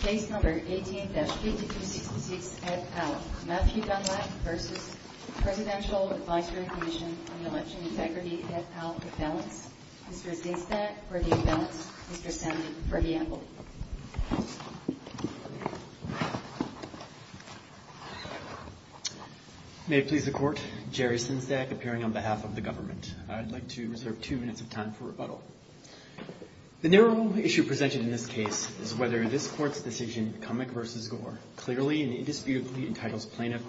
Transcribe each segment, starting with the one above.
Case No. 18-8266, Ed Powell. Matthew Dunlap v. Presidential Advisory Commission on Election Integrity Ed Powell, for balance. Mr. Zinczak, for the imbalance. Mr. Stanley, for the amble. May it please the Court, Jerry Zinczak, appearing on behalf of the government. I'd like to reserve two minutes of time for rebuttal. The narrow issue presented in this case is whether this Court's decision, Cummick v. Gore, clearly and indisputably entitles plaintiff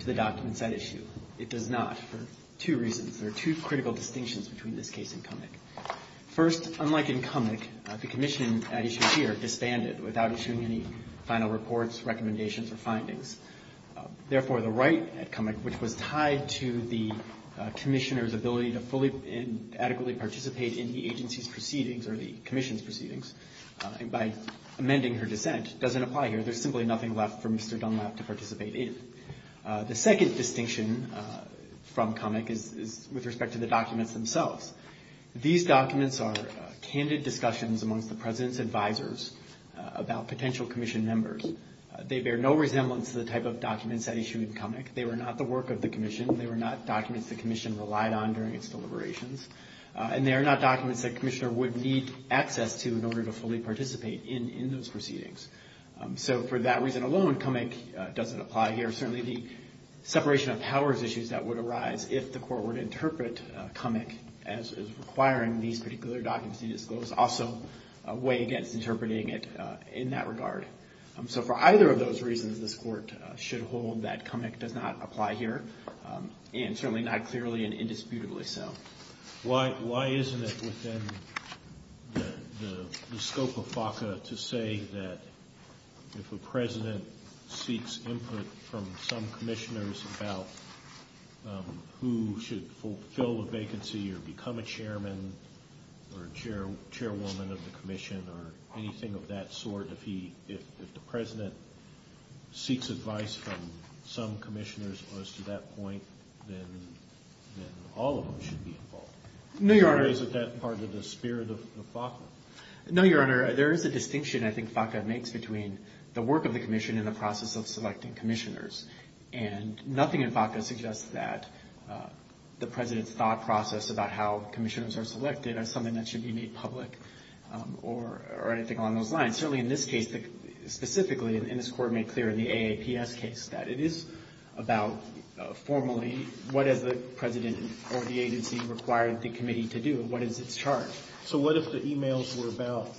to the documents at issue. It does not, for two reasons. There are two critical distinctions between this case and Cummick. First, unlike in Cummick, the commission at issue here disbanded without issuing any final reports, recommendations, or findings. Therefore, the right at Cummick, which was tied to the commissioner's ability to fully and adequately participate in the agency's proceedings, or the commission's proceedings, by amending her dissent, doesn't apply here. There's simply nothing left for Mr. Dunlap to participate in. The second distinction from Cummick is with respect to the documents themselves. These documents are candid discussions amongst the president's advisors about potential commission members. They bear no resemblance to the type of documents at issue in Cummick. They were not the work of the commission. They were not documents the commission relied on during its deliberations. And they are not documents that the commissioner would need access to in order to fully participate in those proceedings. So for that reason alone, Cummick doesn't apply here. Certainly the separation of powers issues that would arise if the Court were to interpret Cummick as requiring these particular documents to be disclosed also weigh against interpreting it in that regard. So for either of those reasons, this Court should hold that Cummick does not apply here, and certainly not clearly and indisputably so. Why isn't it within the scope of FACA to say that if a president seeks input from some commissioners about who should fulfill a vacancy or become a chairman or chairwoman of the commission or anything of that sort, if the president seeks advice from some commissioners as to that point, then all of them should be involved? Is that part of the spirit of FACA? No, Your Honor. There is a distinction I think FACA makes between the work of the commission and the process of selecting commissioners. And about how commissioners are selected as something that should be made public or anything along those lines. Certainly in this case, specifically in this Court made clear in the AAPS case that it is about formally what has the president or the agency required the committee to do and what is its charge. So what if the e-mails were about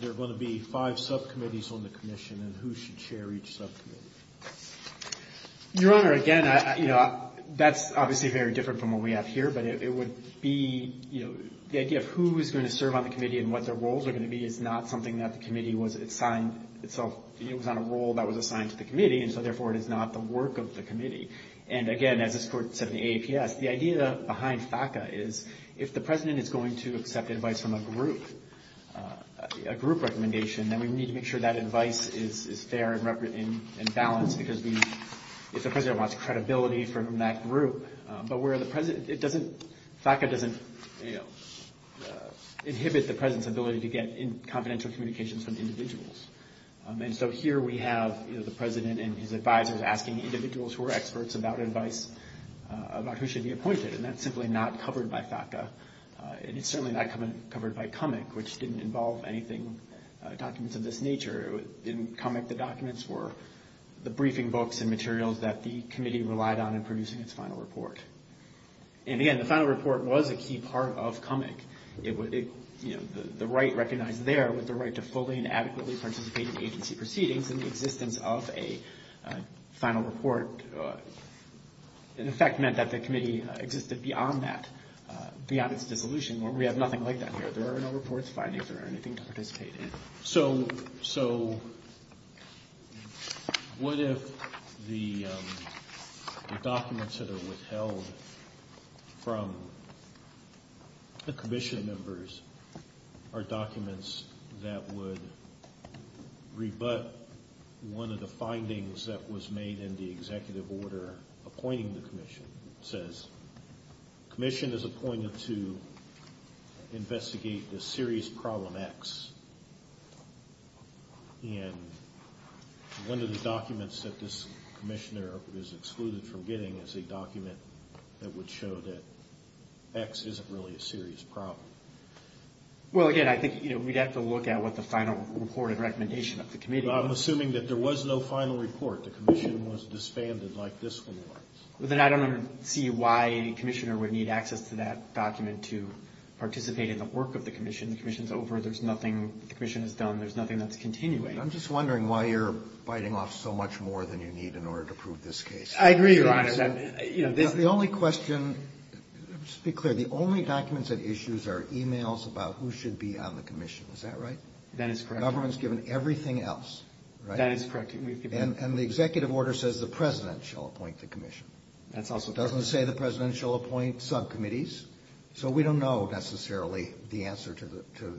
there are going to be five subcommittees on the commission and who should share each subcommittee? Your Honor, again, that's obviously very different from what we have here, but it would be the idea of who is going to serve on the committee and what their roles are going to be is not something that the committee was assigned. It was on a role that was assigned to the committee and so therefore it is not the work of the committee. And again, as this Court said in the AAPS, the idea behind FACA is if the president is going to accept advice from a group recommendation, then we need to make sure that advice is fair and balanced because if the president wants credibility from that group, but where the president, it doesn't, FACA doesn't, you know, inhibit the president's ability to get confidential communications from individuals. And so here we have the president and his advisors asking individuals who are experts about advice about who should be appointed and that's simply not covered by FACA and it's certainly not covered by CUMMIC, which didn't involve anything, documents of this nature. In CUMMIC, the documents were the briefing books and materials that the committee relied on in producing its final report. And again, the final report was a key part of CUMMIC. It would, you know, the right recognized there was the right to fully and adequately participate in agency proceedings and the existence of a committee beyond that, beyond its dissolution, where we have nothing like that here. There are no reports, findings, or anything to participate in. So what if the documents that are withheld from the commission members are documents that would rebut one of the findings that was made in the executive order appointing the commission? It says, commission is appointed to investigate the serious problem X. And one of the documents that this commissioner was excluded from getting is a document that would show that X isn't really a serious problem. Well, again, I think, you know, we'd have to look at what the final report and recommendation of the committee would be. Well, I'm assuming that there was no final report. The commission was disbanded like this one was. Well, then I don't see why the commissioner would need access to that document to participate in the work of the commission. The commission is over. There's nothing the commission has done. There's nothing that's continuing. I'm just wondering why you're biting off so much more than you need in order to prove this case. I agree, Your Honor. The only question, just to be clear, the only documents at issue are emails about who should be on the commission. Is that right? That is correct. Government's given everything else, right? That is correct. And the executive order says the president shall appoint the commission. That's also correct. It doesn't say the president shall appoint subcommittees. So we don't know, necessarily, the answer to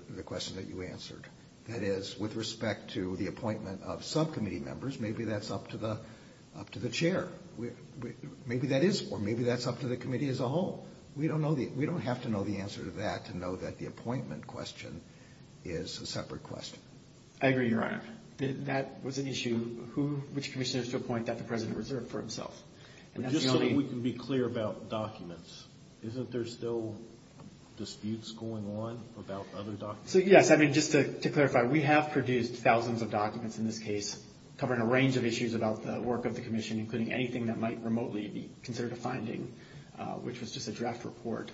the question that you answered. That is, with respect to the appointment of subcommittee members, maybe that's up to the chair. Maybe that is, or maybe that's up to the committee as a whole. We don't have to know the answer to that to know that the appointment question is a separate question. I agree, Your Honor. That was an issue, which commissioners to appoint that the president reserved for himself. Just so we can be clear about documents, isn't there still disputes going on about other documents? So, yes, I mean, just to clarify, we have produced thousands of documents in this case covering a range of issues about the work of the commission, including anything that might remotely be considered a finding, which was just a draft report.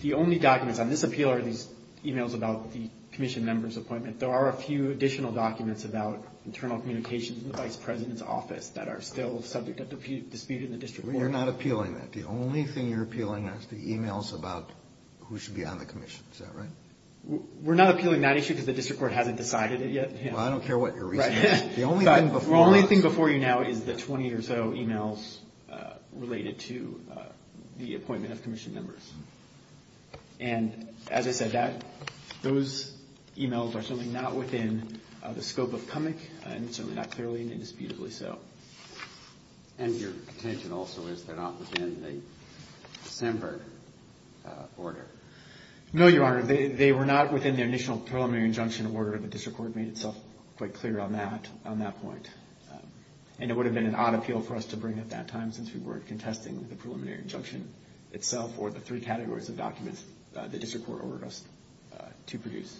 The only documents on this appeal are these emails about the commission members' appointment. There are a few additional documents about internal communications in the vice president's office that are still subject to dispute in the district court. You're not appealing that. The only thing you're appealing is the emails about who should be on the commission. Is that right? We're not appealing that issue because the district court hasn't decided it yet. Well, I don't care what your reasoning is. The only thing before you now is the 20 or so emails related to the appointment of commission members. And as I said, those emails are certainly not within the scope of CUMMIC and certainly not clearly and indisputably so. And your contention also is they're not within the December order. No, Your Honor. They were not within the initial preliminary injunction order. The district court made itself quite clear on that point. And it would have been an odd appeal for us to bring at that time since we weren't contesting the preliminary injunction itself or the three categories of documents the district court ordered us to produce.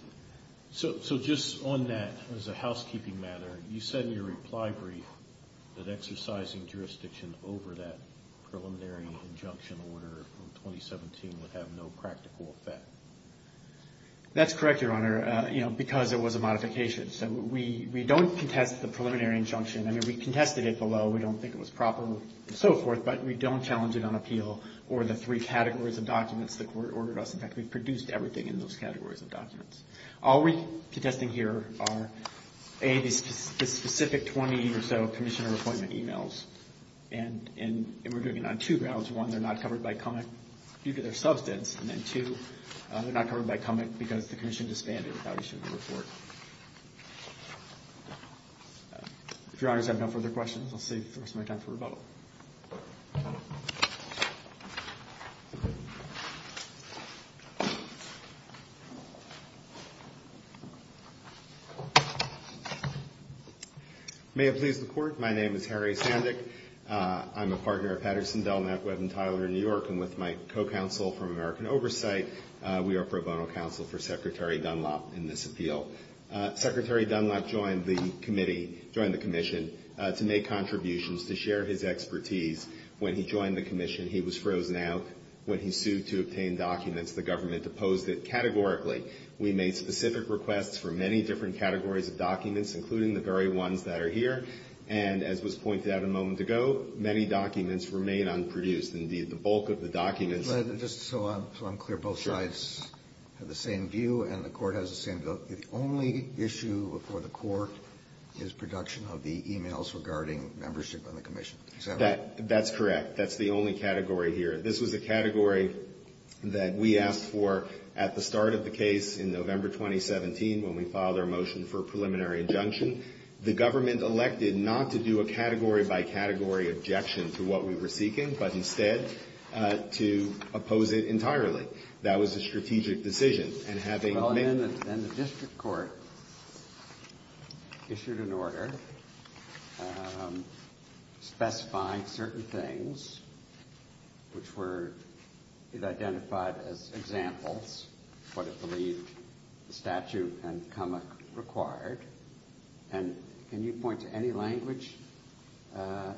So just on that as a housekeeping matter, you said in your reply brief that exercising jurisdiction over that preliminary injunction order from 2017 would have no practical effect. That's correct, Your Honor, because it was a modification. So we don't contest the preliminary injunction. I mean, we contested it below. We don't think it was proper and so forth. But we don't challenge it on appeal or the three categories of documents the court ordered us. In fact, we produced everything in those categories of documents. All we're contesting here are A, the specific 20 or so commissioner appointment emails. And we're doing it on two grounds. One, they're not covered by CUMMIC due to their substance. And then two, they're not covered by CUMMIC because the commission disbanded without issuing a report. If Your Honors have no further questions, I'll see if there's any time for rebuttal. May it please the Court, my name is Harry Sandick. I'm a partner of Patterson, Delknap, Webb & Tyler in New York. And with my co-counsel from American Oversight, we are pro bono counsel for Secretary Dunlop in this appeal. Secretary Dunlop joined the committee, joined the commission, to make contributions, to share his expertise. When he joined the commission, he was frozen out. When he sued to obtain documents, the government opposed it categorically. We made specific requests for many different categories of documents, including the very ones that are here. And as was pointed out a moment ago, many documents remain unproduced. Indeed, the bulk of the documents— The only issue for the Court is production of the e-mails regarding membership in the commission. Is that right? That's correct. That's the only category here. This was a category that we asked for at the start of the case in November 2017, when we filed our motion for a preliminary injunction. The government elected not to do a category-by-category objection to what we were seeking, but instead to oppose it entirely. That was a strategic decision. Then the district court issued an order specifying certain things, which were identified as examples, what it believed the statute and comic required. And can you point to any language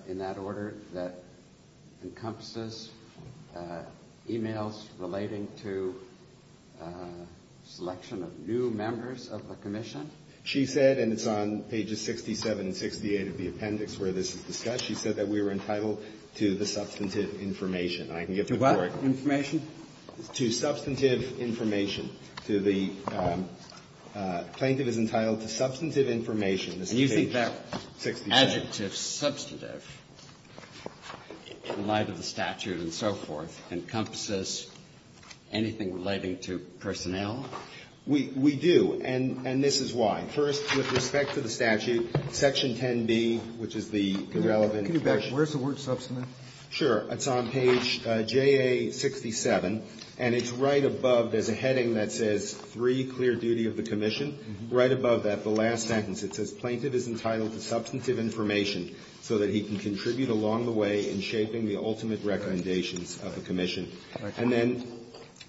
in that order that encompasses e-mails relating to selection of new members of the commission? She said, and it's on pages 67 and 68 of the appendix where this is discussed, she said that we were entitled to the substantive information. I can give the report. To what information? To substantive information. To the plaintiff is entitled to substantive information. And you think that adjective, substantive, in light of the statute and so forth, encompasses anything relating to personnel? We do. And this is why. First, with respect to the statute, Section 10b, which is the relevant question. Can you back up? Where's the word substantive? Sure. It's on page JA67, and it's right above. There's a heading that says three, clear duty of the commission. Right above that, the last sentence, it says plaintiff is entitled to substantive information so that he can contribute along the way in shaping the ultimate recommendations of the commission. And then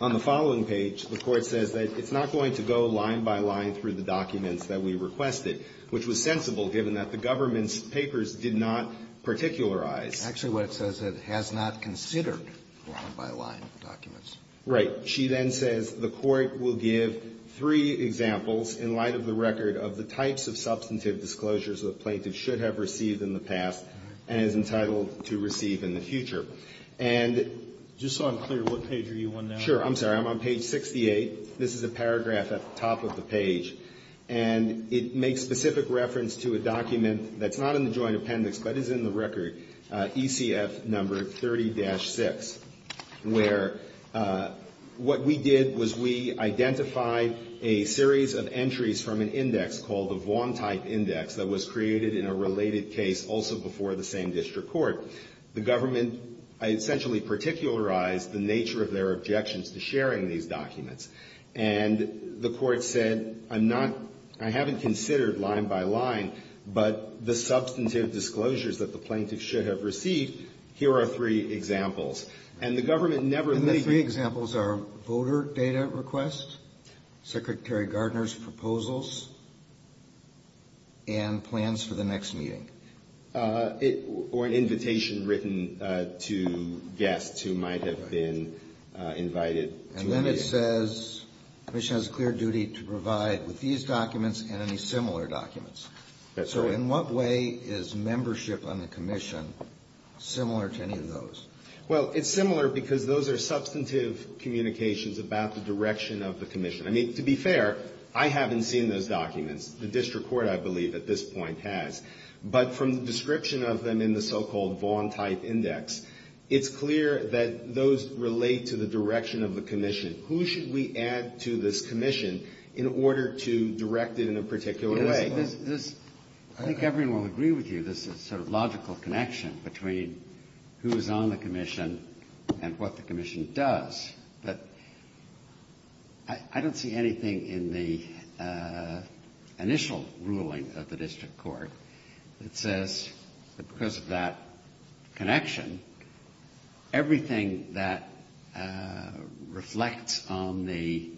on the following page, the Court says that it's not going to go line by line through the documents that we requested, which was sensible given that the government's papers did not particularize. Actually, what it says, it has not considered line by line documents. Right. She then says the Court will give three examples in light of the record of the types of substantive disclosures the plaintiff should have received in the past and is entitled to receive in the future. And just so I'm clear, what page are you on now? Sure. I'm sorry. I'm on page 68. This is a paragraph at the top of the page. And it makes specific reference to a document that's not in the joint appendix, but is in the record, ECF number 30-6, where what we did was we identified a series of entries from an index called the Vaughan-type index that was created in a related case also before the same district court. The government essentially particularized the nature of their objections to sharing these documents. And the Court said, I'm not – I haven't considered line by line, but the substantive disclosures that the plaintiff should have received, here are three examples. And the government never – And the three examples are voter data requests, Secretary Gardner's proposals, and plans for the next meeting. Or an invitation written to guests who might have been invited to a meeting. And then it says the Commission has a clear duty to provide with these documents and any similar documents. That's right. So in what way is membership on the Commission similar to any of those? Well, it's similar because those are substantive communications about the direction of the Commission. I mean, to be fair, I haven't seen those documents. The district court, I believe, at this point has. But from the description of them in the so-called Vaughan-type index, it's clear that those relate to the direction of the Commission. Who should we add to this Commission in order to direct it in a particular way? I think everyone will agree with you, there's a sort of logical connection between who is on the Commission and what the Commission does. But I don't see anything in the initial ruling of the district court that says that because of that connection, everything that reflects on the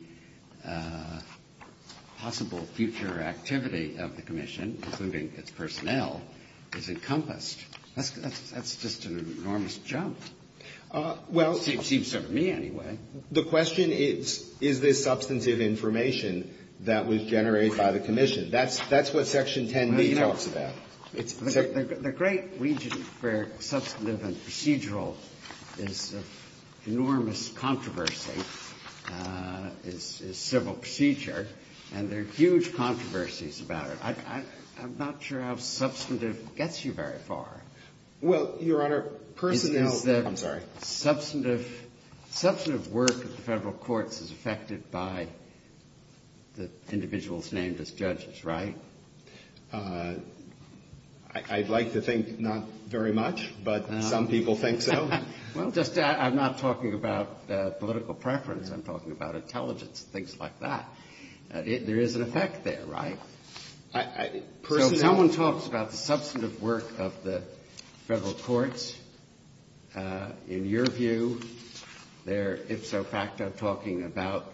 possible future activity of the Commission, including its personnel, is encompassed. That's just an enormous jump. Well. Seems to me, anyway. The question is, is this substantive information that was generated by the Commission? That's what Section 10b talks about. The great region for substantive and procedural is an enormous controversy, is civil procedure. And there are huge controversies about it. I'm not sure how substantive gets you very far. Well, Your Honor, personnel. I'm sorry. Substantive work of the federal courts is affected by the individuals named as judges, right? I'd like to think not very much, but some people think so. Well, I'm not talking about political preference. I'm talking about intelligence and things like that. There is an effect there, right? So if someone talks about the substantive work of the federal courts, in your view, they're ipso facto talking about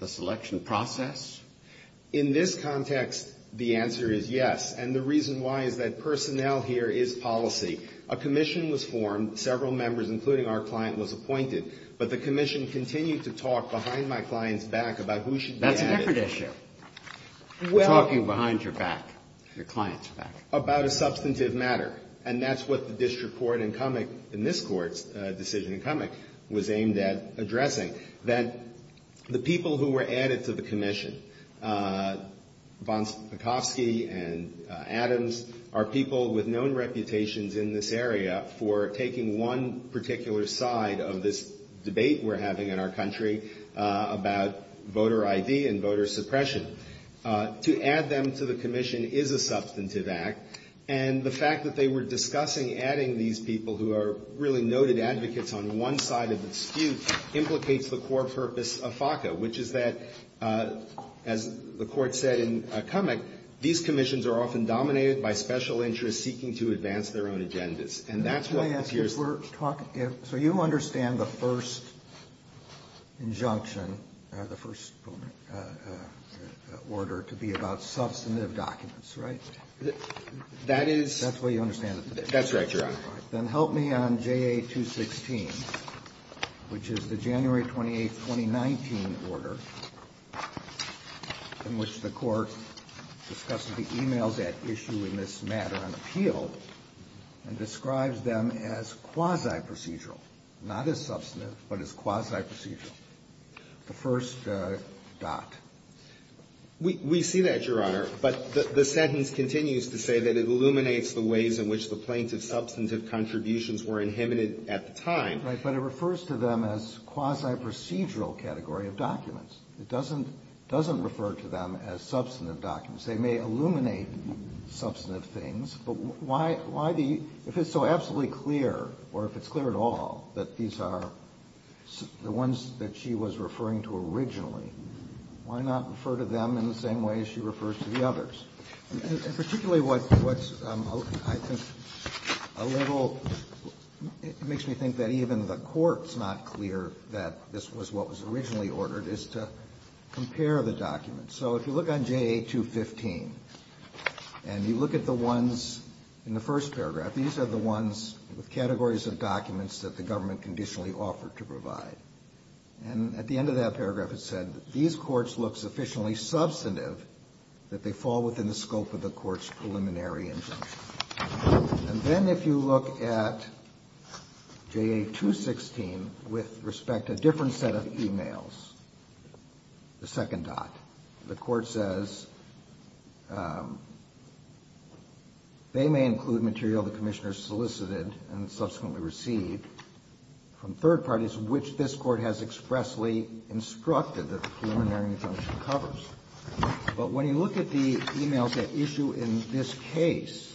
the selection process? In this context, the answer is yes. And the reason why is that personnel here is policy. A Commission was formed. Several members, including our client, was appointed. But the Commission continued to talk behind my client's back about who should be added. That's a different issue. Talking behind your back, your client's back. About a substantive matter. And that's what the district court in Cummick, in this court's decision in Cummick, was aimed at addressing. That the people who were added to the Commission, Bonsakowski and Adams, are people with known reputations in this area for taking one particular side of this debate we're having in our country about voter ID and voter suppression. To add them to the Commission is a substantive act. And the fact that they were discussing adding these people who are really noted advocates on one side of the dispute implicates the core purpose of FACA. Which is that, as the Court said in Cummick, these Commissions are often dominated by special interests seeking to advance their own agendas. And that's what appears to be the case. Order to be about substantive documents, right? That is... That's the way you understand it. That's right, Your Honor. Then help me on JA 216, which is the January 28th, 2019 order, in which the Court discusses the emails at issue in this matter on appeal. And describes them as quasi-procedural. Not as substantive, but as quasi-procedural. The first dot. We see that, Your Honor. But the sentence continues to say that it illuminates the ways in which the plaintiff's substantive contributions were inhibited at the time. Right. But it refers to them as quasi-procedural category of documents. It doesn't refer to them as substantive documents. They may illuminate substantive things. But why the... If it's so absolutely clear, or if it's clear at all, that these are the ones that she was referring to originally, why not refer to them in the same way she refers to the others? And particularly what's, I think, a little... It makes me think that even the Court's not clear that this was what was originally ordered, is to compare the documents. So if you look on JA 215, and you look at the ones in the first paragraph, these are the ones with categories of documents that the government conditionally offered to provide. And at the end of that paragraph, it said that these courts look sufficiently substantive that they fall within the scope of the Court's preliminary injunction. And then if you look at JA 216 with respect to a different set of emails, the second dot, the Court says they may include material the Commissioner solicited and subsequently received from third parties, which this Court has expressly instructed that the preliminary injunction covers. But when you look at the emails at issue in this case,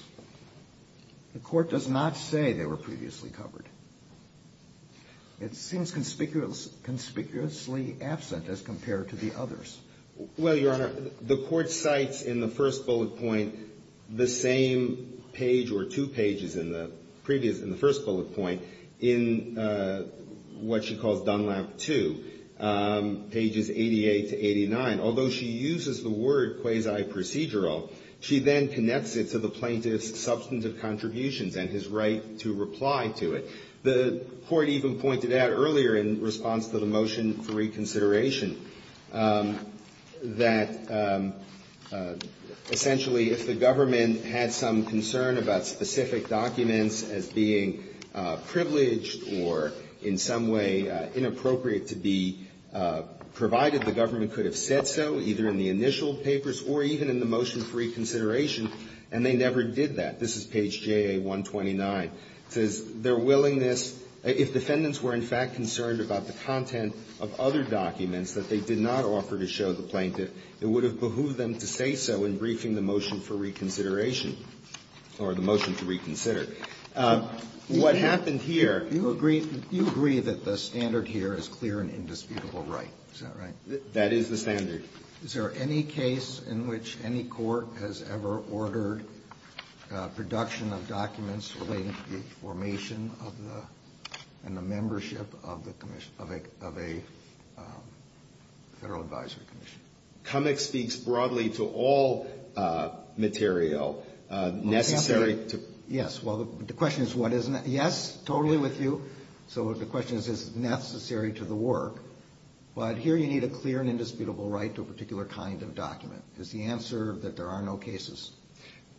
the Court does not say they were previously covered. It seems conspicuously absent as compared to the others. Well, Your Honor, the Court cites in the first bullet point the same page or two pages in the previous... Although she uses the word quasi-procedural, she then connects it to the plaintiff's substantive contributions and his right to reply to it. The Court even pointed out earlier in response to the motion for reconsideration that essentially if the government had some concern about specific documents as being privileged or in some way inappropriate to be provided, the government could have said so either in the initial papers or even in the motion for reconsideration, and they never did that. This is page JA 129. It says their willingness, if defendants were in fact concerned about the content of other documents that they did not offer to show the plaintiff, it would have behooved them to say so in briefing the motion for reconsideration or the motion to reconsider. What happened here... You agree that the standard here is clear and indisputable right. Is that right? That is the standard. Is there any case in which any court has ever ordered production of documents relating to the formation of the and the membership of the commission, of a Federal Advisory Commission? Cummings speaks broadly to all material necessary to... Yes. Well, the question is what is necessary. Yes, totally with you. So the question is, is it necessary to the work? But here you need a clear and indisputable right to a particular kind of document. Is the answer that there are no cases?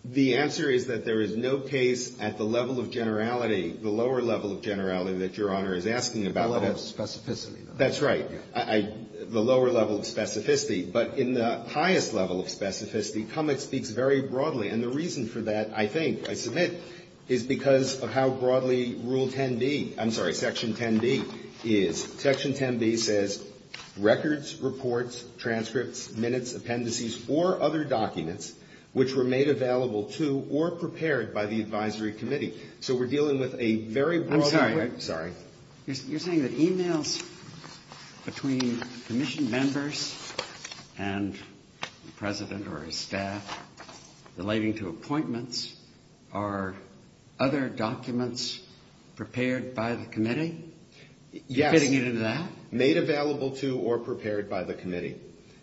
The answer is that there is no case at the level of generality, the lower level of generality that Your Honor is asking about. The level of specificity. That's right. The lower level of specificity. But in the highest level of specificity, Cummings speaks very broadly. And the reason for that, I think, I submit, is because of how broadly Rule 10b I'm sorry, Section 10b is. Section 10b says records, reports, transcripts, minutes, appendices, or other documents which were made available to or prepared by the advisory committee. So we're dealing with a very broad... I'm sorry. Sorry. You're saying that e-mails between Commission members and the President or his staff relating to appointments are other documents prepared by the committee? Yes. You're fitting it into that? Made available to or prepared by the committee.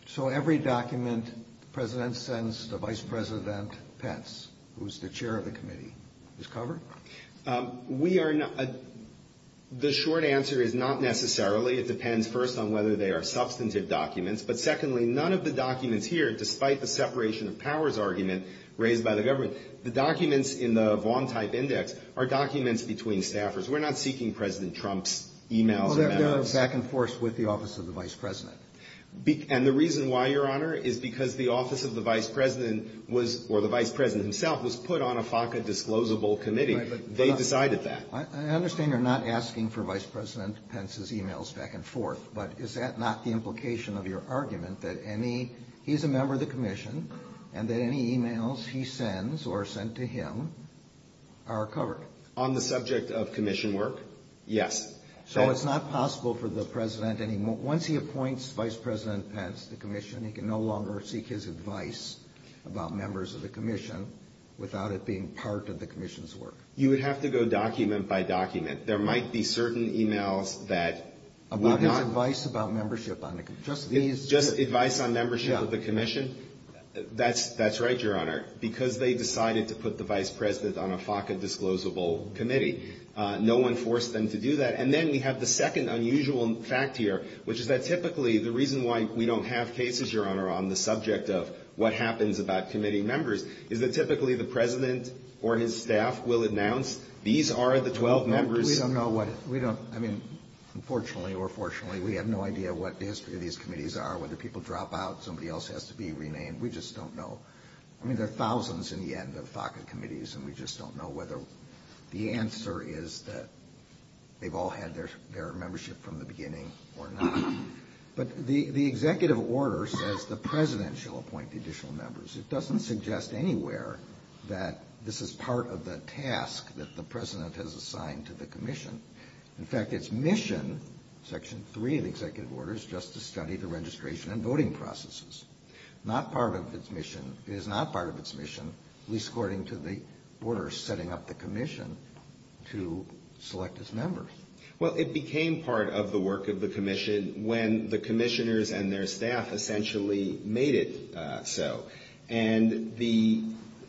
So every document the President sends to Vice President Pence, who is the chair of the committee, is covered? We are not. The short answer is not necessarily. It depends, first, on whether they are substantive documents. But, secondly, none of the documents here, despite the separation of powers argument raised by the government, the documents in the Vaughan-type index are documents between staffers. We're not seeking President Trump's e-mails. Well, they're back and forth with the Office of the Vice President. And the reason why, Your Honor, is because the Office of the Vice President was or the Vice President himself was put on a FACA-disclosable committee. They decided that. I understand you're not asking for Vice President Pence's e-mails back and forth. But is that not the implication of your argument that he's a member of the Commission and that any e-mails he sends or sent to him are covered? On the subject of Commission work, yes. So it's not possible for the President, once he appoints Vice President Pence to Commission, he can no longer seek his advice about members of the Commission without it being part of the Commission's work? You would have to go document by document. There might be certain e-mails that were not. About his advice about membership on the Commission? Just these? Just advice on membership of the Commission? Yeah. That's right, Your Honor. Because they decided to put the Vice President on a FACA-disclosable committee. No one forced them to do that. And then we have the second unusual fact here, which is that, typically, the reason why we don't have cases, Your Honor, on the subject of what happens about committee members is that typically the President or his staff will announce these are the 12 members. We don't know what it is. I mean, unfortunately or fortunately, we have no idea what the history of these committees are, whether people drop out, somebody else has to be renamed. We just don't know. I mean, there are thousands in the end of FACA committees, and we just don't know whether the answer is that they've all had their membership from the beginning or not. But the executive order says the President shall appoint additional members. It doesn't suggest anywhere that this is part of the task that the President has assigned to the Commission. In fact, its mission, Section 3 of the executive order, is just to study the registration and voting processes. It is not part of its mission, at least according to the order setting up the Commission, to select its members. Well, it became part of the work of the Commission when the commissioners and their staff essentially made it so. And the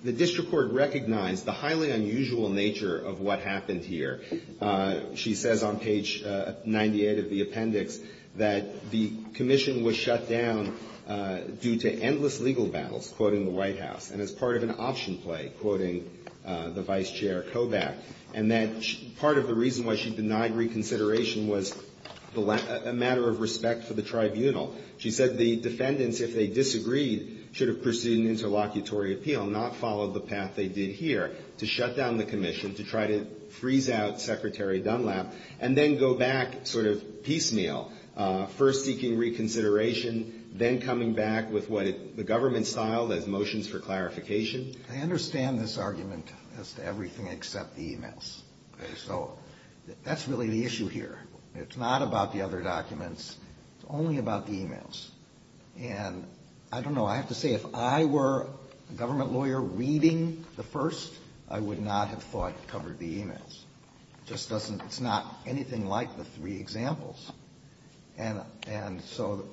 district court recognized the highly unusual nature of what happened here. She says on page 98 of the appendix that the Commission was shut down due to endless legal battles, quoting the White House, and as part of an option play, quoting the Vice Chair Kobach, and that part of the reason why she denied reconsideration was a matter of respect for the tribunal. She said the defendants, if they disagreed, should have pursued an interlocutory appeal, not followed the path they did here, to shut down the Commission, to try to freeze out Secretary Dunlap, and then go back sort of piecemeal, first seeking reconsideration, then coming back with what the government styled as motions for clarification. I understand this argument as to everything except the e-mails. So that's really the issue here. It's not about the other documents. It's only about the e-mails. And I don't know. I have to say, if I were a government lawyer reading the first, I would not have thought it covered the e-mails. It just doesn't. It's not anything like the three examples. And so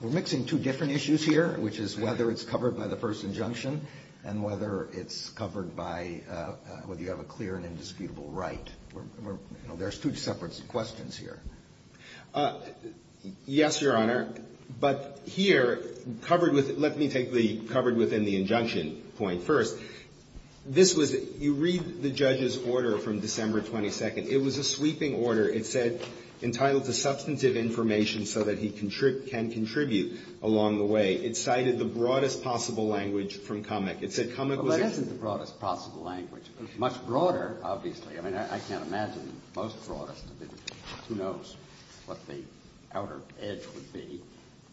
we're mixing two different issues here, which is whether it's covered by the first injunction and whether it's covered by whether you have a clear and indisputable right. There's two separate questions here. Yes, Your Honor. But here, covered with the – let me take the covered within the injunction point first. This was – you read the judge's order from December 22nd. It was a sweeping order. It said entitled to substantive information so that he can contribute along the way. It cited the broadest possible language from Comey. It said Comey was a – Well, that isn't the broadest possible language. It was much broader, obviously. I mean, I can't imagine the most broadest of it. Who knows what the outer edge would be.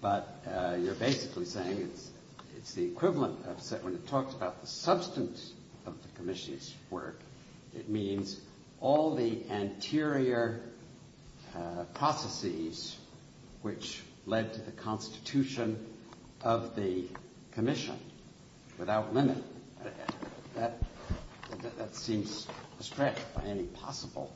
But you're basically saying it's the equivalent of – when it talks about the substance of the commission's work, it means all the anterior processes which led to the constitution of the commission without limit. That seems a stretch by any possible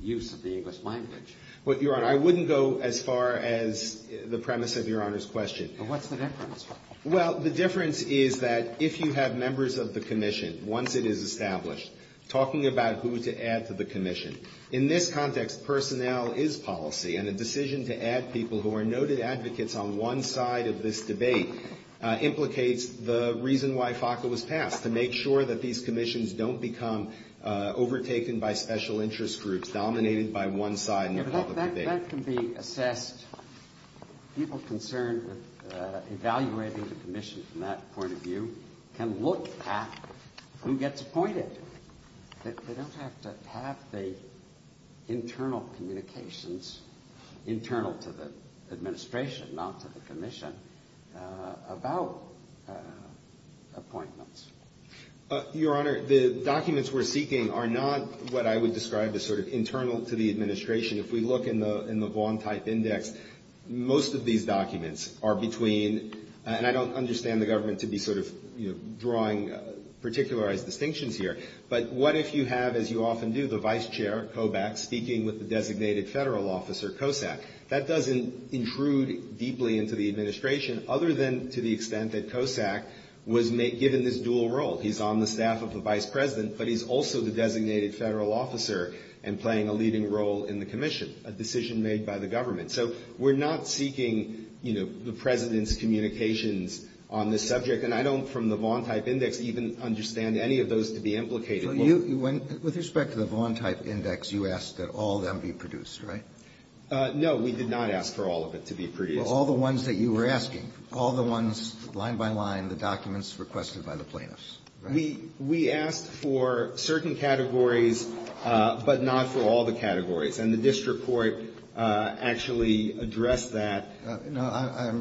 use of the English language. Well, Your Honor, I wouldn't go as far as the premise of Your Honor's question. What's the difference? Well, the difference is that if you have members of the commission, once it is established, talking about who to add to the commission. In this context, personnel is policy. And a decision to add people who are noted advocates on one side of this debate implicates the reason why FACA was passed, to make sure that these commissions don't become overtaken by special interest groups dominated by one side in the public debate. But that can be assessed. People concerned with evaluating the commission from that point of view can look at who gets appointed. They don't have to have the internal communications, internal to the administration, not to the commission, about appointments. Your Honor, the documents we're seeking are not what I would describe as sort of internal to the administration. If we look in the Vaughan-type index, most of these documents are between, and I don't understand the government to be sort of, you know, drawing particularized distinctions here. But what if you have, as you often do, the vice chair, Kobach, speaking with the designated federal officer, Kosak. That doesn't intrude deeply into the administration, other than to the extent that Kosak was given this dual role. He's on the staff of the vice president, but he's also the designated federal officer and playing a leading role in the commission, a decision made by the government. So we're not seeking, you know, the President's communications on this subject. And I don't, from the Vaughan-type index, even understand any of those to be implicated. Alito, with respect to the Vaughan-type index, you asked that all them be produced, right? No, we did not ask for all of it to be produced. All the ones that you were asking, all the ones, line by line, the documents requested by the plaintiffs, right? We asked for certain categories, but not for all the categories. And the district court actually addressed that. No,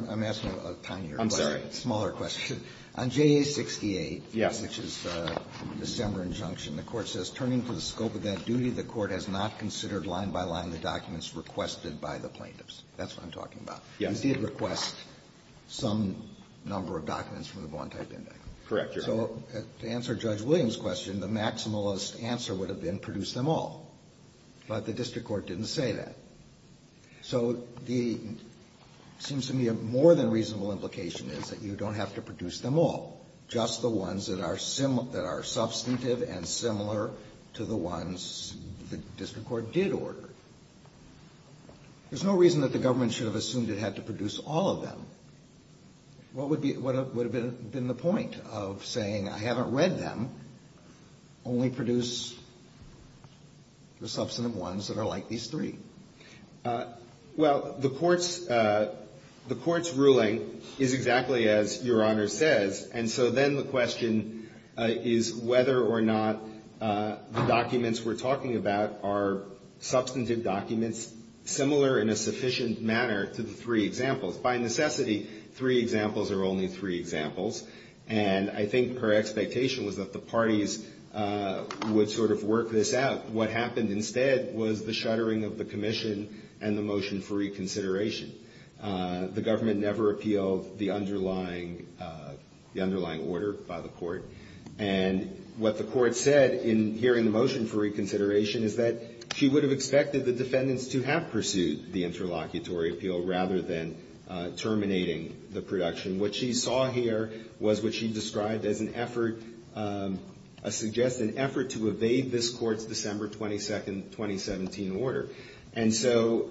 I'm asking a tinier question. I'm sorry. Smaller question. On JA-68, which is a December injunction, the Court says, turning to the scope of that duty, the Court has not considered line by line the documents requested by the plaintiffs. That's what I'm talking about. Yes. You did request some number of documents from the Vaughan-type index. Correct, Your Honor. So to answer Judge Williams' question, the maximalist answer would have been produce them all. But the district court didn't say that. So the seems to me a more than reasonable implication is that you don't have to produce them all, just the ones that are substantive and similar to the ones the district court did order. There's no reason that the government should have assumed it had to produce all of them. What would be the point of saying I haven't read them, only produce the substantive ones that are like these three? Well, the Court's ruling is exactly as Your Honor says. And so then the question is whether or not the documents we're talking about are substantive documents similar in a sufficient manner to the three examples. By necessity, three examples are only three examples. And I think her expectation was that the parties would sort of work this out. What happened instead was the shuttering of the commission and the motion for reconsideration. The government never appealed the underlying order by the Court. And what the Court said in hearing the motion for reconsideration is that she would have expected the defendants to have pursued the interlocutory appeal rather than terminating the production. What she saw here was what she described as an effort, a suggested effort to evade this Court's December 22nd, 2017 order. And so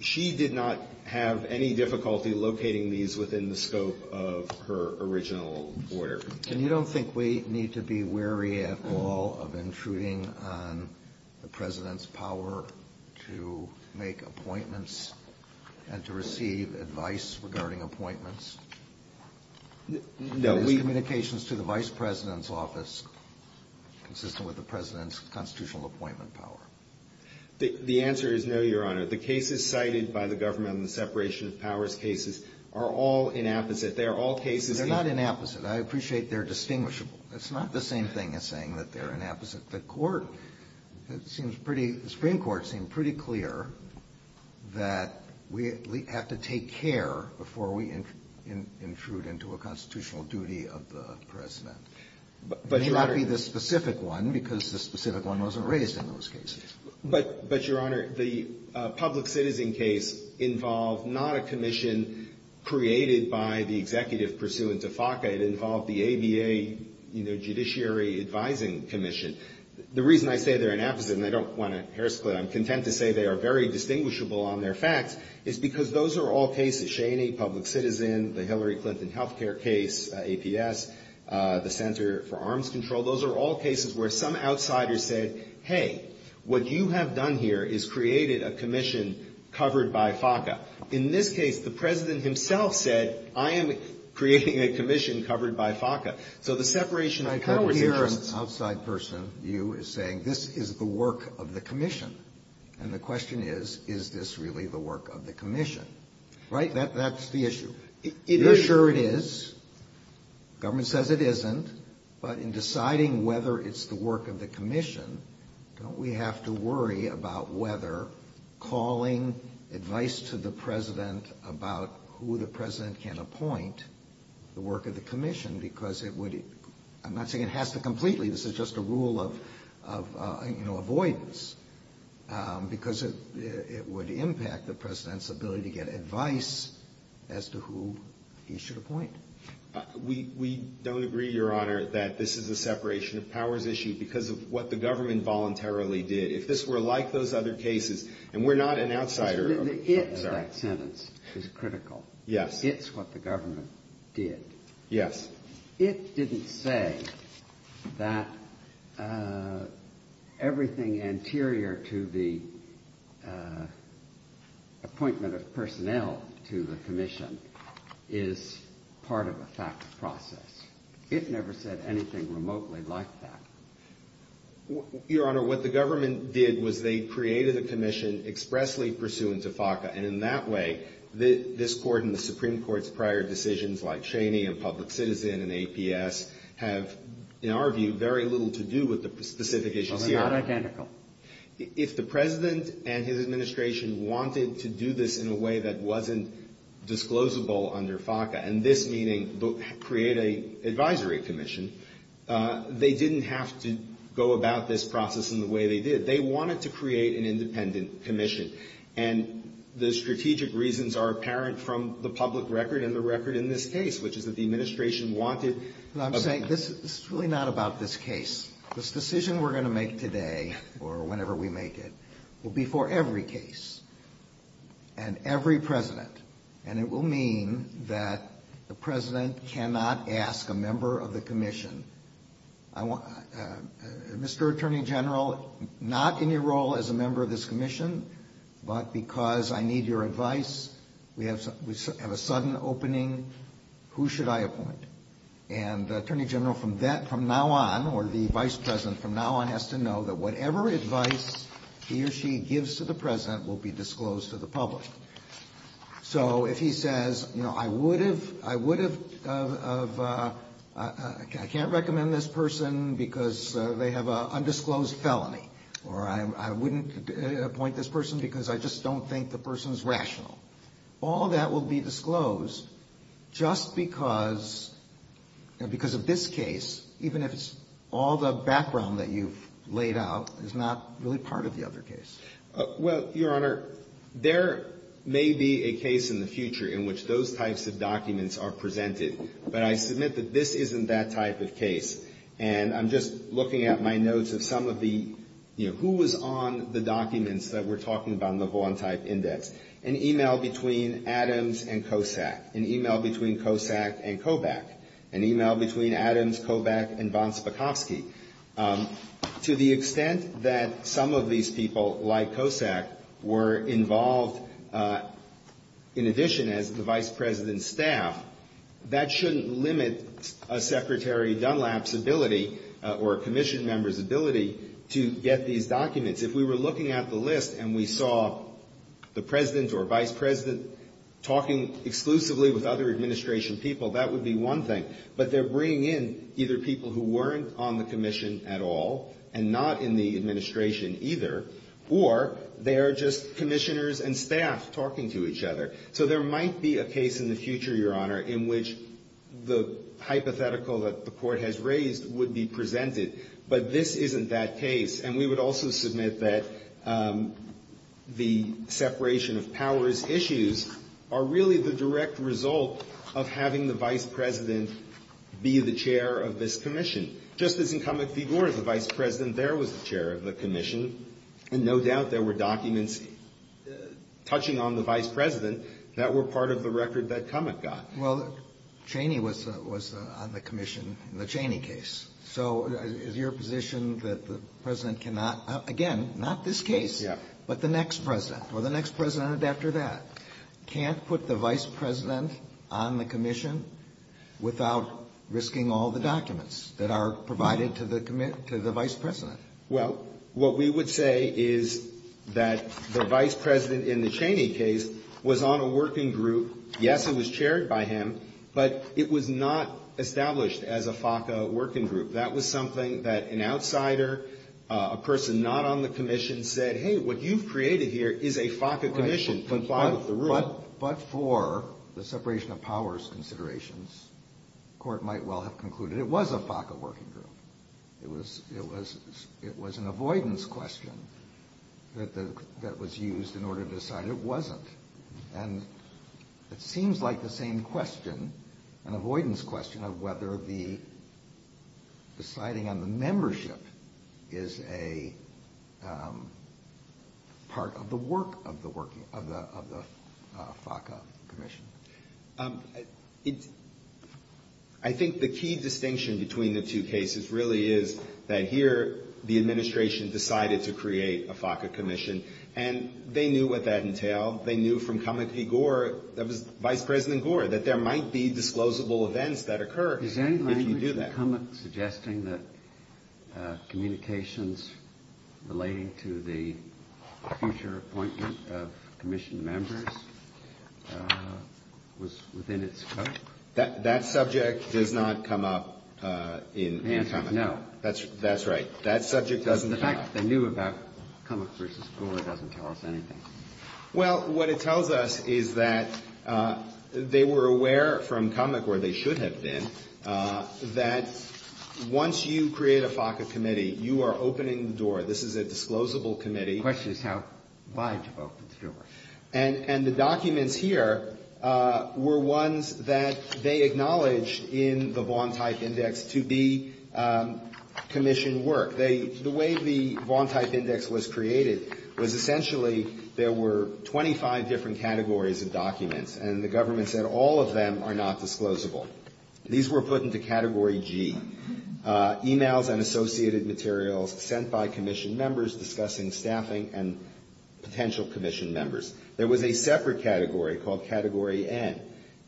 she did not have any difficulty locating these within the scope of her original order. And you don't think we need to be wary at all of intruding on the President's power to make appointments and to receive advice regarding appointments? No. Is communications to the Vice President's office consistent with the President's constitutional appointment power? The answer is no, Your Honor. The cases cited by the government on the separation of powers cases are all inapposite. They are all cases of the ---- They're not inapposite. I appreciate they're distinguishable. It's not the same thing as saying that they're inapposite. The Court, it seems pretty ---- the Supreme Court seemed pretty clear that we have to take care before we intrude into a constitutional duty of the President. But, Your Honor ---- It may not be the specific one because the specific one wasn't raised in those cases. But, Your Honor, the public citizen case involved not a commission created by the executive pursuant to FACA. It involved the ABA, you know, Judiciary Advising Commission. The reason I say they're inapposite, and I don't want to hair split, I'm content to say they are very distinguishable on their facts, is because those are all cases. Cheney, public citizen, the Hillary Clinton health care case, APS, the Center for Arms Control, those are all cases where some outsider said, hey, what you have done here is created a commission covered by FACA. In this case, the President himself said, I am creating a commission covered by FACA. So the separation of powers is just ---- I can't hear an outside person. You are saying this is the work of the commission. And the question is, is this really the work of the commission? Right? That's the issue. It is. You're sure it is. Government says it isn't. But in deciding whether it's the work of the commission, don't we have to worry about whether calling advice to the President about who the President can appoint the work of the commission? Because it would ---- I'm not saying it has to completely. This is just a rule of, you know, avoidance. Because it would impact the President's ability to get advice as to who he should appoint. We don't agree, Your Honor, that this is a separation of powers issue because of what the government voluntarily did. If this were like those other cases, and we're not an outsider. It's that sentence that's critical. Yes. It's what the government did. Yes. It didn't say that everything anterior to the appointment of personnel to the commission is part of a FACA process. It never said anything remotely like that. Your Honor, what the government did was they created a commission expressly pursuant to FACA. And in that way, this Court and the Supreme Court's prior decisions like Cheney and Public Citizen and APS have, in our view, very little to do with the specific issues here. Well, they're not identical. If the President and his administration wanted to do this in a way that wasn't disclosable under FACA, and this meaning create an advisory commission, they didn't have to go about this process in the way they did. They wanted to create an independent commission. And the strategic reasons are apparent from the public record and the record in this case, which is that the administration wanted a ---- But I'm saying this is really not about this case. This decision we're going to make today, or whenever we make it, will be for every case and every President. And it will mean that the President cannot ask a member of the commission, Mr. Attorney General, not in your role as a member of this commission, but because I need your advice, we have a sudden opening, who should I appoint? And the Attorney General from now on or the Vice President from now on has to know that whatever advice he or she gives to the President will be disclosed to the public. So if he says, you know, I would have, I would have, I can't recommend this person because they have an undisclosed felony, or I wouldn't appoint this person because I just don't think the person's rational. All that will be disclosed just because of this case, even if it's all the background that you've laid out is not really part of the other case. Well, Your Honor, there may be a case in the future in which those types of documents are presented. But I submit that this isn't that type of case. And I'm just looking at my notes of some of the, you know, who was on the documents that we're talking about in the Vaughan-type index. An email between Adams and Kosak. An email between Kosak and Kobach. An email between Adams, Kobach, and von Spakovsky. To the extent that some of these people, like Kosak, were involved in addition as the Vice President's staff, that shouldn't limit a Secretary Dunlap's ability or a commission member's ability to get these documents. If we were looking at the list and we saw the President or Vice President talking exclusively with other administration people, that would be one thing. But they're bringing in either people who weren't on the commission at all and not in the administration either, or they are just commissioners and staff talking to each other. So there might be a case in the future, Your Honor, in which the hypothetical that the Court has raised would be presented. But this isn't that case. And we would also submit that the separation of powers issues are really the direct result of having the Vice President be the chair of this commission. Just as in Kamek v. Gore, the Vice President there was the chair of the commission, and no doubt there were documents touching on the Vice President that were part of the record that Kamek got. Well, Cheney was on the commission in the Cheney case. So is your position that the President cannot, again, not this case, but the next President or the next President after that? Can't put the Vice President on the commission without risking all the documents that are provided to the Vice President? Well, what we would say is that the Vice President in the Cheney case was on a working group. Yes, it was chaired by him, but it was not established as a FACA working group. That was something that an outsider, a person not on the commission said, hey, what you've created here is a FACA commission. But for the separation of powers considerations, the court might well have concluded it was a FACA working group. It was an avoidance question that was used in order to decide it wasn't. And it seems like the same question, an avoidance question, of whether the deciding on the membership is a part of the work of the FACA commission. I think the key distinction between the two cases really is that here the administration decided to create a FACA commission. And they knew what that entailed. They knew from Comey P. Gore, that was Vice President Gore, that there might be disclosable events that occur if you do that. Was Comey suggesting that communications relating to the future appointment of commission members was within its scope? That subject does not come up in Comey. No. That's right. That subject doesn't come up. The fact that they knew about Comey versus Gore doesn't tell us anything. Well, what it tells us is that they were aware from Comey, where they should have been, that once you create a FACA committee, you are opening the door. This is a disclosable committee. The question is how wide you've opened the door. And the documents here were ones that they acknowledged in the Vaughan-Type Index to be commissioned work. The way the Vaughan-Type Index was created was essentially there were 25 different categories of documents. And the government said all of them are not disclosable. These were put into Category G, emails and associated materials sent by commission members discussing staffing and potential commission members. There was a separate category called Category N,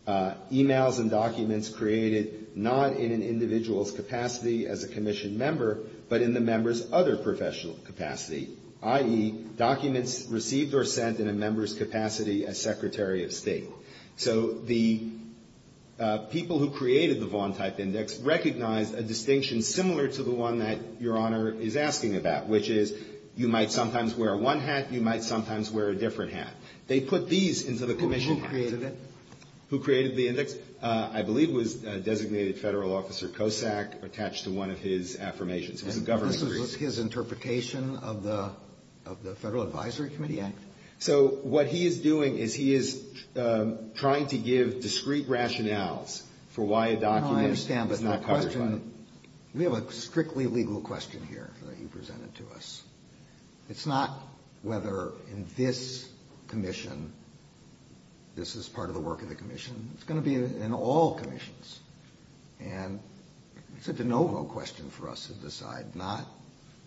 emails and documents created not in an individual's capacity as a commission member, but in the member's other professional capacity, i.e., documents received or sent in a member's capacity as Secretary of State. So the people who created the Vaughan-Type Index recognized a distinction similar to the one that Your Honor is asking about, which is you might sometimes wear one hat, you might sometimes wear a different hat. They put these into the commission. And who created it? Who created the index? I believe it was Designated Federal Officer Kosak attached to one of his affirmations. It was a government person. And this was his interpretation of the Federal Advisory Committee Act? So what he is doing is he is trying to give discrete rationales for why a document is not classified. No, I understand that question. We have a strictly legal question here that you presented to us. It's not whether in this commission this is part of the work of the commission. It's going to be in all commissions. And it's a de novo question for us to decide. I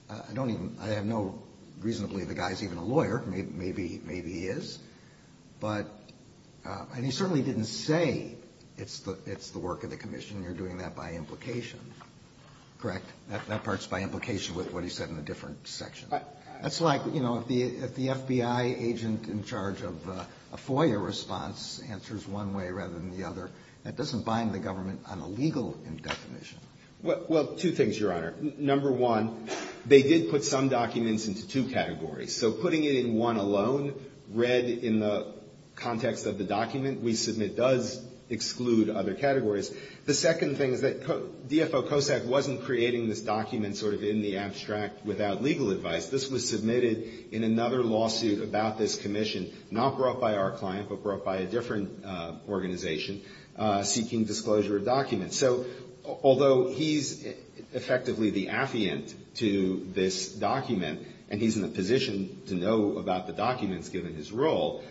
have no reason to believe the guy is even a lawyer. Maybe he is. And he certainly didn't say it's the work of the commission. You are doing that by implication. Correct? That part is by implication with what he said in a different section. That's like, you know, if the FBI agent in charge of a FOIA response answers one way rather than the other, that doesn't bind the government on a legal definition. Well, two things, Your Honor. Number one, they did put some documents into two categories. So putting it in one alone read in the context of the document we submit does exclude other categories. The second thing is that DFO COSAC wasn't creating this document sort of in the abstract without legal advice. This was submitted in another lawsuit about this commission, not brought by our client but brought by a different organization, seeking disclosure of documents. So although he's effectively the affiant to this document and he's in a position to know about the documents given his role,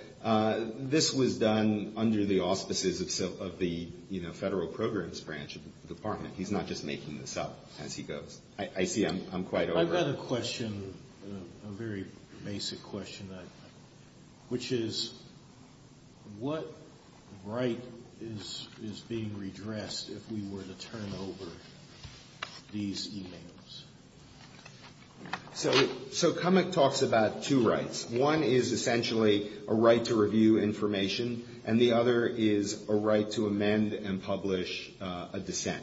this was done under the auspices of the, you know, Federal Programs Branch of the Department. He's not just making this up as he goes. I see I'm quite over. I've got a question, a very basic question, which is what right is being redressed if we were to turn over these e-mails? So Cummick talks about two rights. One is essentially a right to review information, and the other is a right to amend and publish a dissent.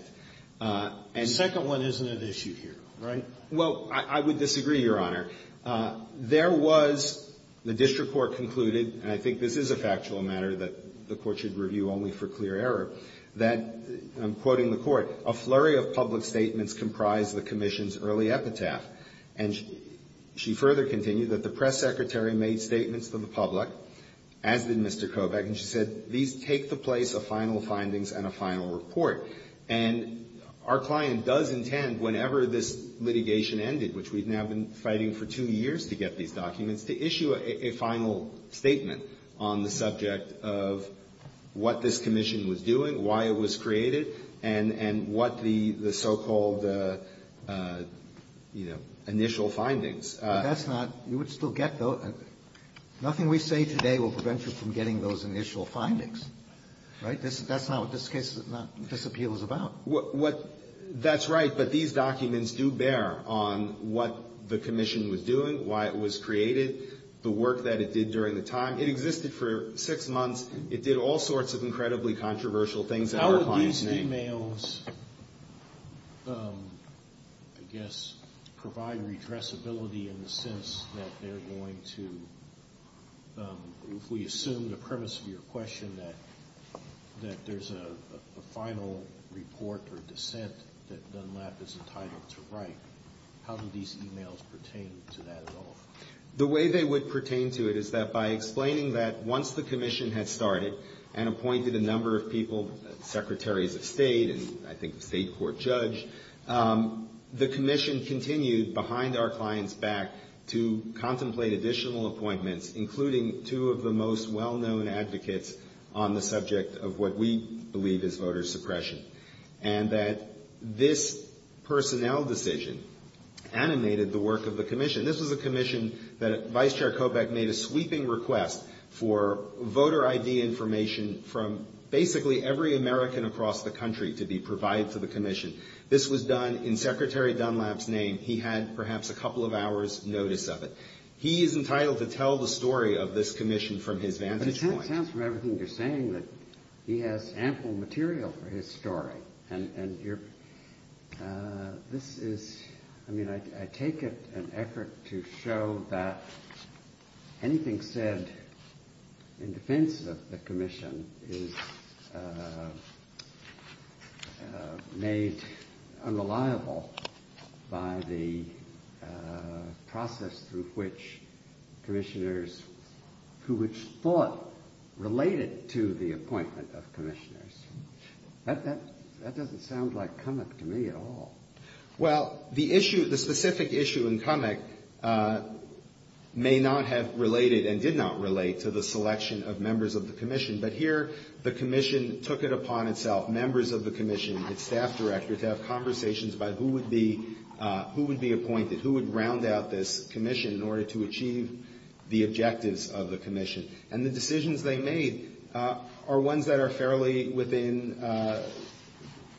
The second one isn't at issue here, right? Well, I would disagree, Your Honor. There was the district court concluded, and I think this is a factual matter that the court should review only for clear error, that, and I'm quoting the court, a flurry of public statements comprised the commission's early epitaph. And she further continued that the press secretary made statements to the public, as did Mr. Kobach, and she said, these take the place of final findings and a final report. And our client does intend, whenever this litigation ended, which we've now been fighting for two years to get these documents, to issue a final statement on the subject of what this commission was doing, why it was created, and what the so-called, you know, initial findings. But that's not you would still get those. Nothing we say today will prevent you from getting those initial findings, right? That's not what this case, this appeal is about. That's right. But these documents do bear on what the commission was doing, why it was created, the work that it did during the time. It existed for six months. It did all sorts of incredibly controversial things that our clients made. How would these emails, I guess, provide redressability in the sense that they're going to, if we assume the premise of your question, that there's a final report or dissent that Dunlap is entitled to write, how do these emails pertain to that at all? The way they would pertain to it is that by explaining that once the commission had started and appointed a number of people, secretaries of state and I think the state court judge, the commission continued behind our client's back to contemplate additional appointments, including two of the most well-known advocates on the subject of what we believe is voter suppression. And that this personnel decision animated the work of the commission. This was a commission that Vice Chair Kobach made a sweeping request for voter ID information from basically every American across the country to be provided to the commission. This was done in Secretary Dunlap's name. He had perhaps a couple of hours' notice of it. He is entitled to tell the story of this commission from his vantage point. But it sounds from everything you're saying that he has ample material for his story. I take it an effort to show that anything said in defense of the commission is made unreliable by the process through which commissioners, who it's thought related to the appointment of commissioners. That doesn't sound like Cummock to me at all. Well, the issue, the specific issue in Cummock may not have related and did not relate to the selection of members of the commission. But here the commission took it upon itself, members of the commission, its staff director, to have conversations about who would be appointed, who would round out this commission in order to achieve the objectives of the commission. And the decisions they made are ones that are fairly within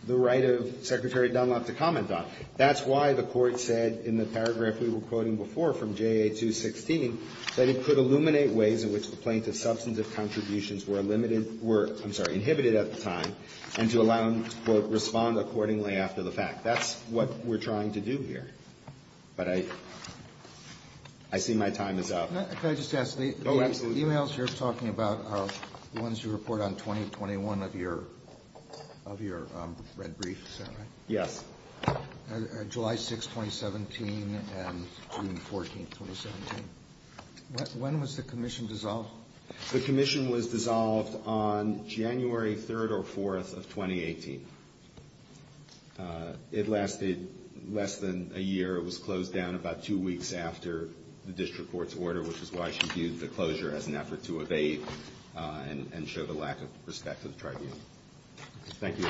the right of Secretary Dunlap to comment on. That's why the Court said in the paragraph we were quoting before from JA 216 that it could illuminate ways in which the plaintiff's substantive contributions were limited, were, I'm sorry, inhibited at the time, and to allow him to, quote, respond accordingly after the fact. That's what we're trying to do here. But I see my time is up. Can I just ask? Oh, absolutely. The emails you're talking about are the ones you report on 2021 of your red brief, is that right? Yes. July 6, 2017 and June 14, 2017. When was the commission dissolved? The commission was dissolved on January 3rd or 4th of 2018. It lasted less than a year. It was closed down about two weeks after the district court's order, which is why she viewed the closure as an effort to evade and show the lack of respect to the tribune. Thank you.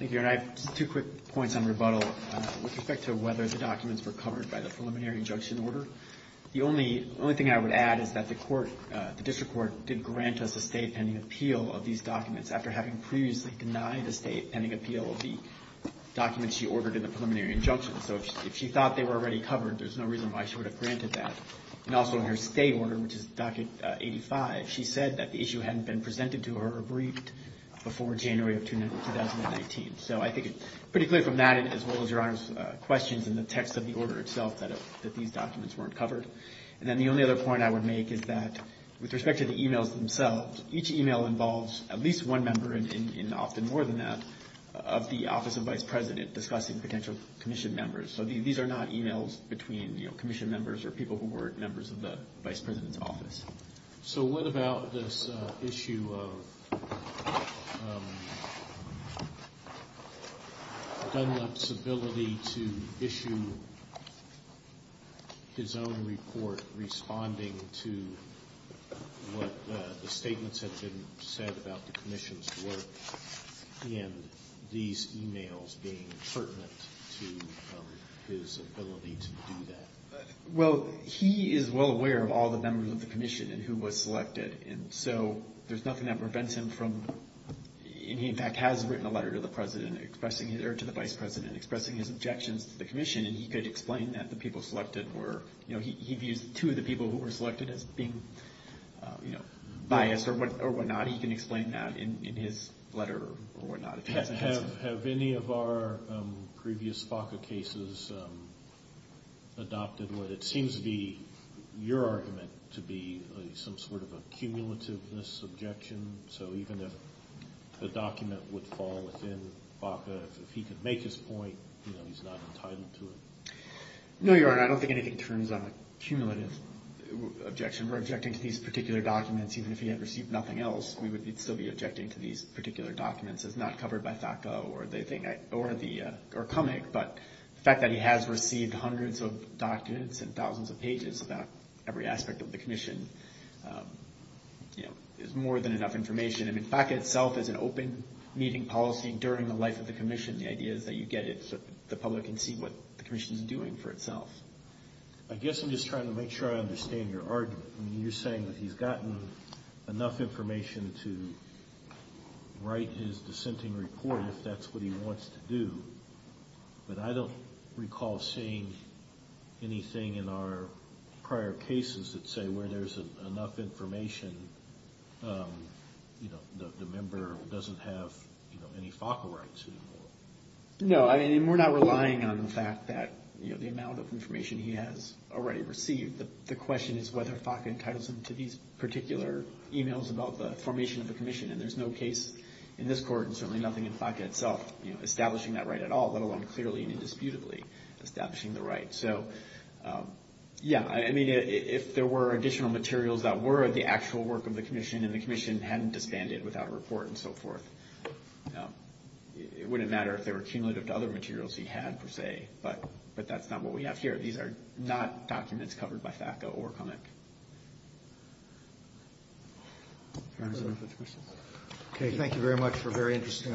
Thank you. And I have two quick points on rebuttal. With respect to whether the documents were covered by the preliminary injunction order, the only thing I would add is that the court, the district court, did grant us a state-pending appeal of these documents after having previously denied a state-pending appeal of the documents she ordered in the preliminary injunction. So if she thought they were already covered, there's no reason why she would have granted that. And also in her state order, which is docket 85, she said that the issue hadn't been presented to her or briefed before January of 2019. So I think it's pretty clear from that, as well as Your Honor's questions in the text of the order itself, that these documents weren't covered. And then the only other point I would make is that with respect to the e-mails themselves, each e-mail involves at least one member, and often more than that, of the office of vice president discussing potential commission members. So these are not e-mails between commission members or people who were members of the vice president's office. So what about this issue of Dunlap's ability to issue his own report responding to what the statements had been said about the commission's work, and these e-mails being pertinent to his ability to do that? Well, he is well aware of all the members of the commission and who was selected. And so there's nothing that prevents him from, and he in fact has written a letter to the president, or to the vice president expressing his objections to the commission, and he could explain that the people selected were, you know, he views two of the people who were selected as being, you know, biased or whatnot. He can explain that in his letter or whatnot. Have any of our previous FACA cases adopted what it seems to be your argument to be some sort of a cumulativeness objection? So even if the document would fall within FACA, if he could make his point, you know, he's not entitled to it? No, Your Honor, I don't think anything turns on a cumulative objection. We're objecting to these particular documents, even if he had received nothing else, we would still be objecting to these particular documents. It's not covered by FACA or CUMIC, but the fact that he has received hundreds of documents and thousands of pages about every aspect of the commission, you know, is more than enough information. I mean, FACA itself is an open meeting policy during the life of the commission. The idea is that you get it so the public can see what the commission is doing for itself. I guess I'm just trying to make sure I understand your argument. I mean, you're saying that he's gotten enough information to write his dissenting report if that's what he wants to do, but I don't recall seeing anything in our prior cases that say where there's enough information, you know, the member doesn't have any FACA rights anymore. No, I mean, we're not relying on the fact that, you know, the amount of information he has already received. The question is whether FACA entitles him to these particular emails about the formation of the commission, and there's no case in this court and certainly nothing in FACA itself establishing that right at all, let alone clearly and indisputably establishing the right. So, yeah, I mean, if there were additional materials that were the actual work of the commission and the commission hadn't disbanded without a report and so forth, it wouldn't matter if they were cumulative to other materials he had, per se, but that's not what we have here. These are not documents covered by FACA or CUMIC. Okay, thank you very much for a very interesting argument.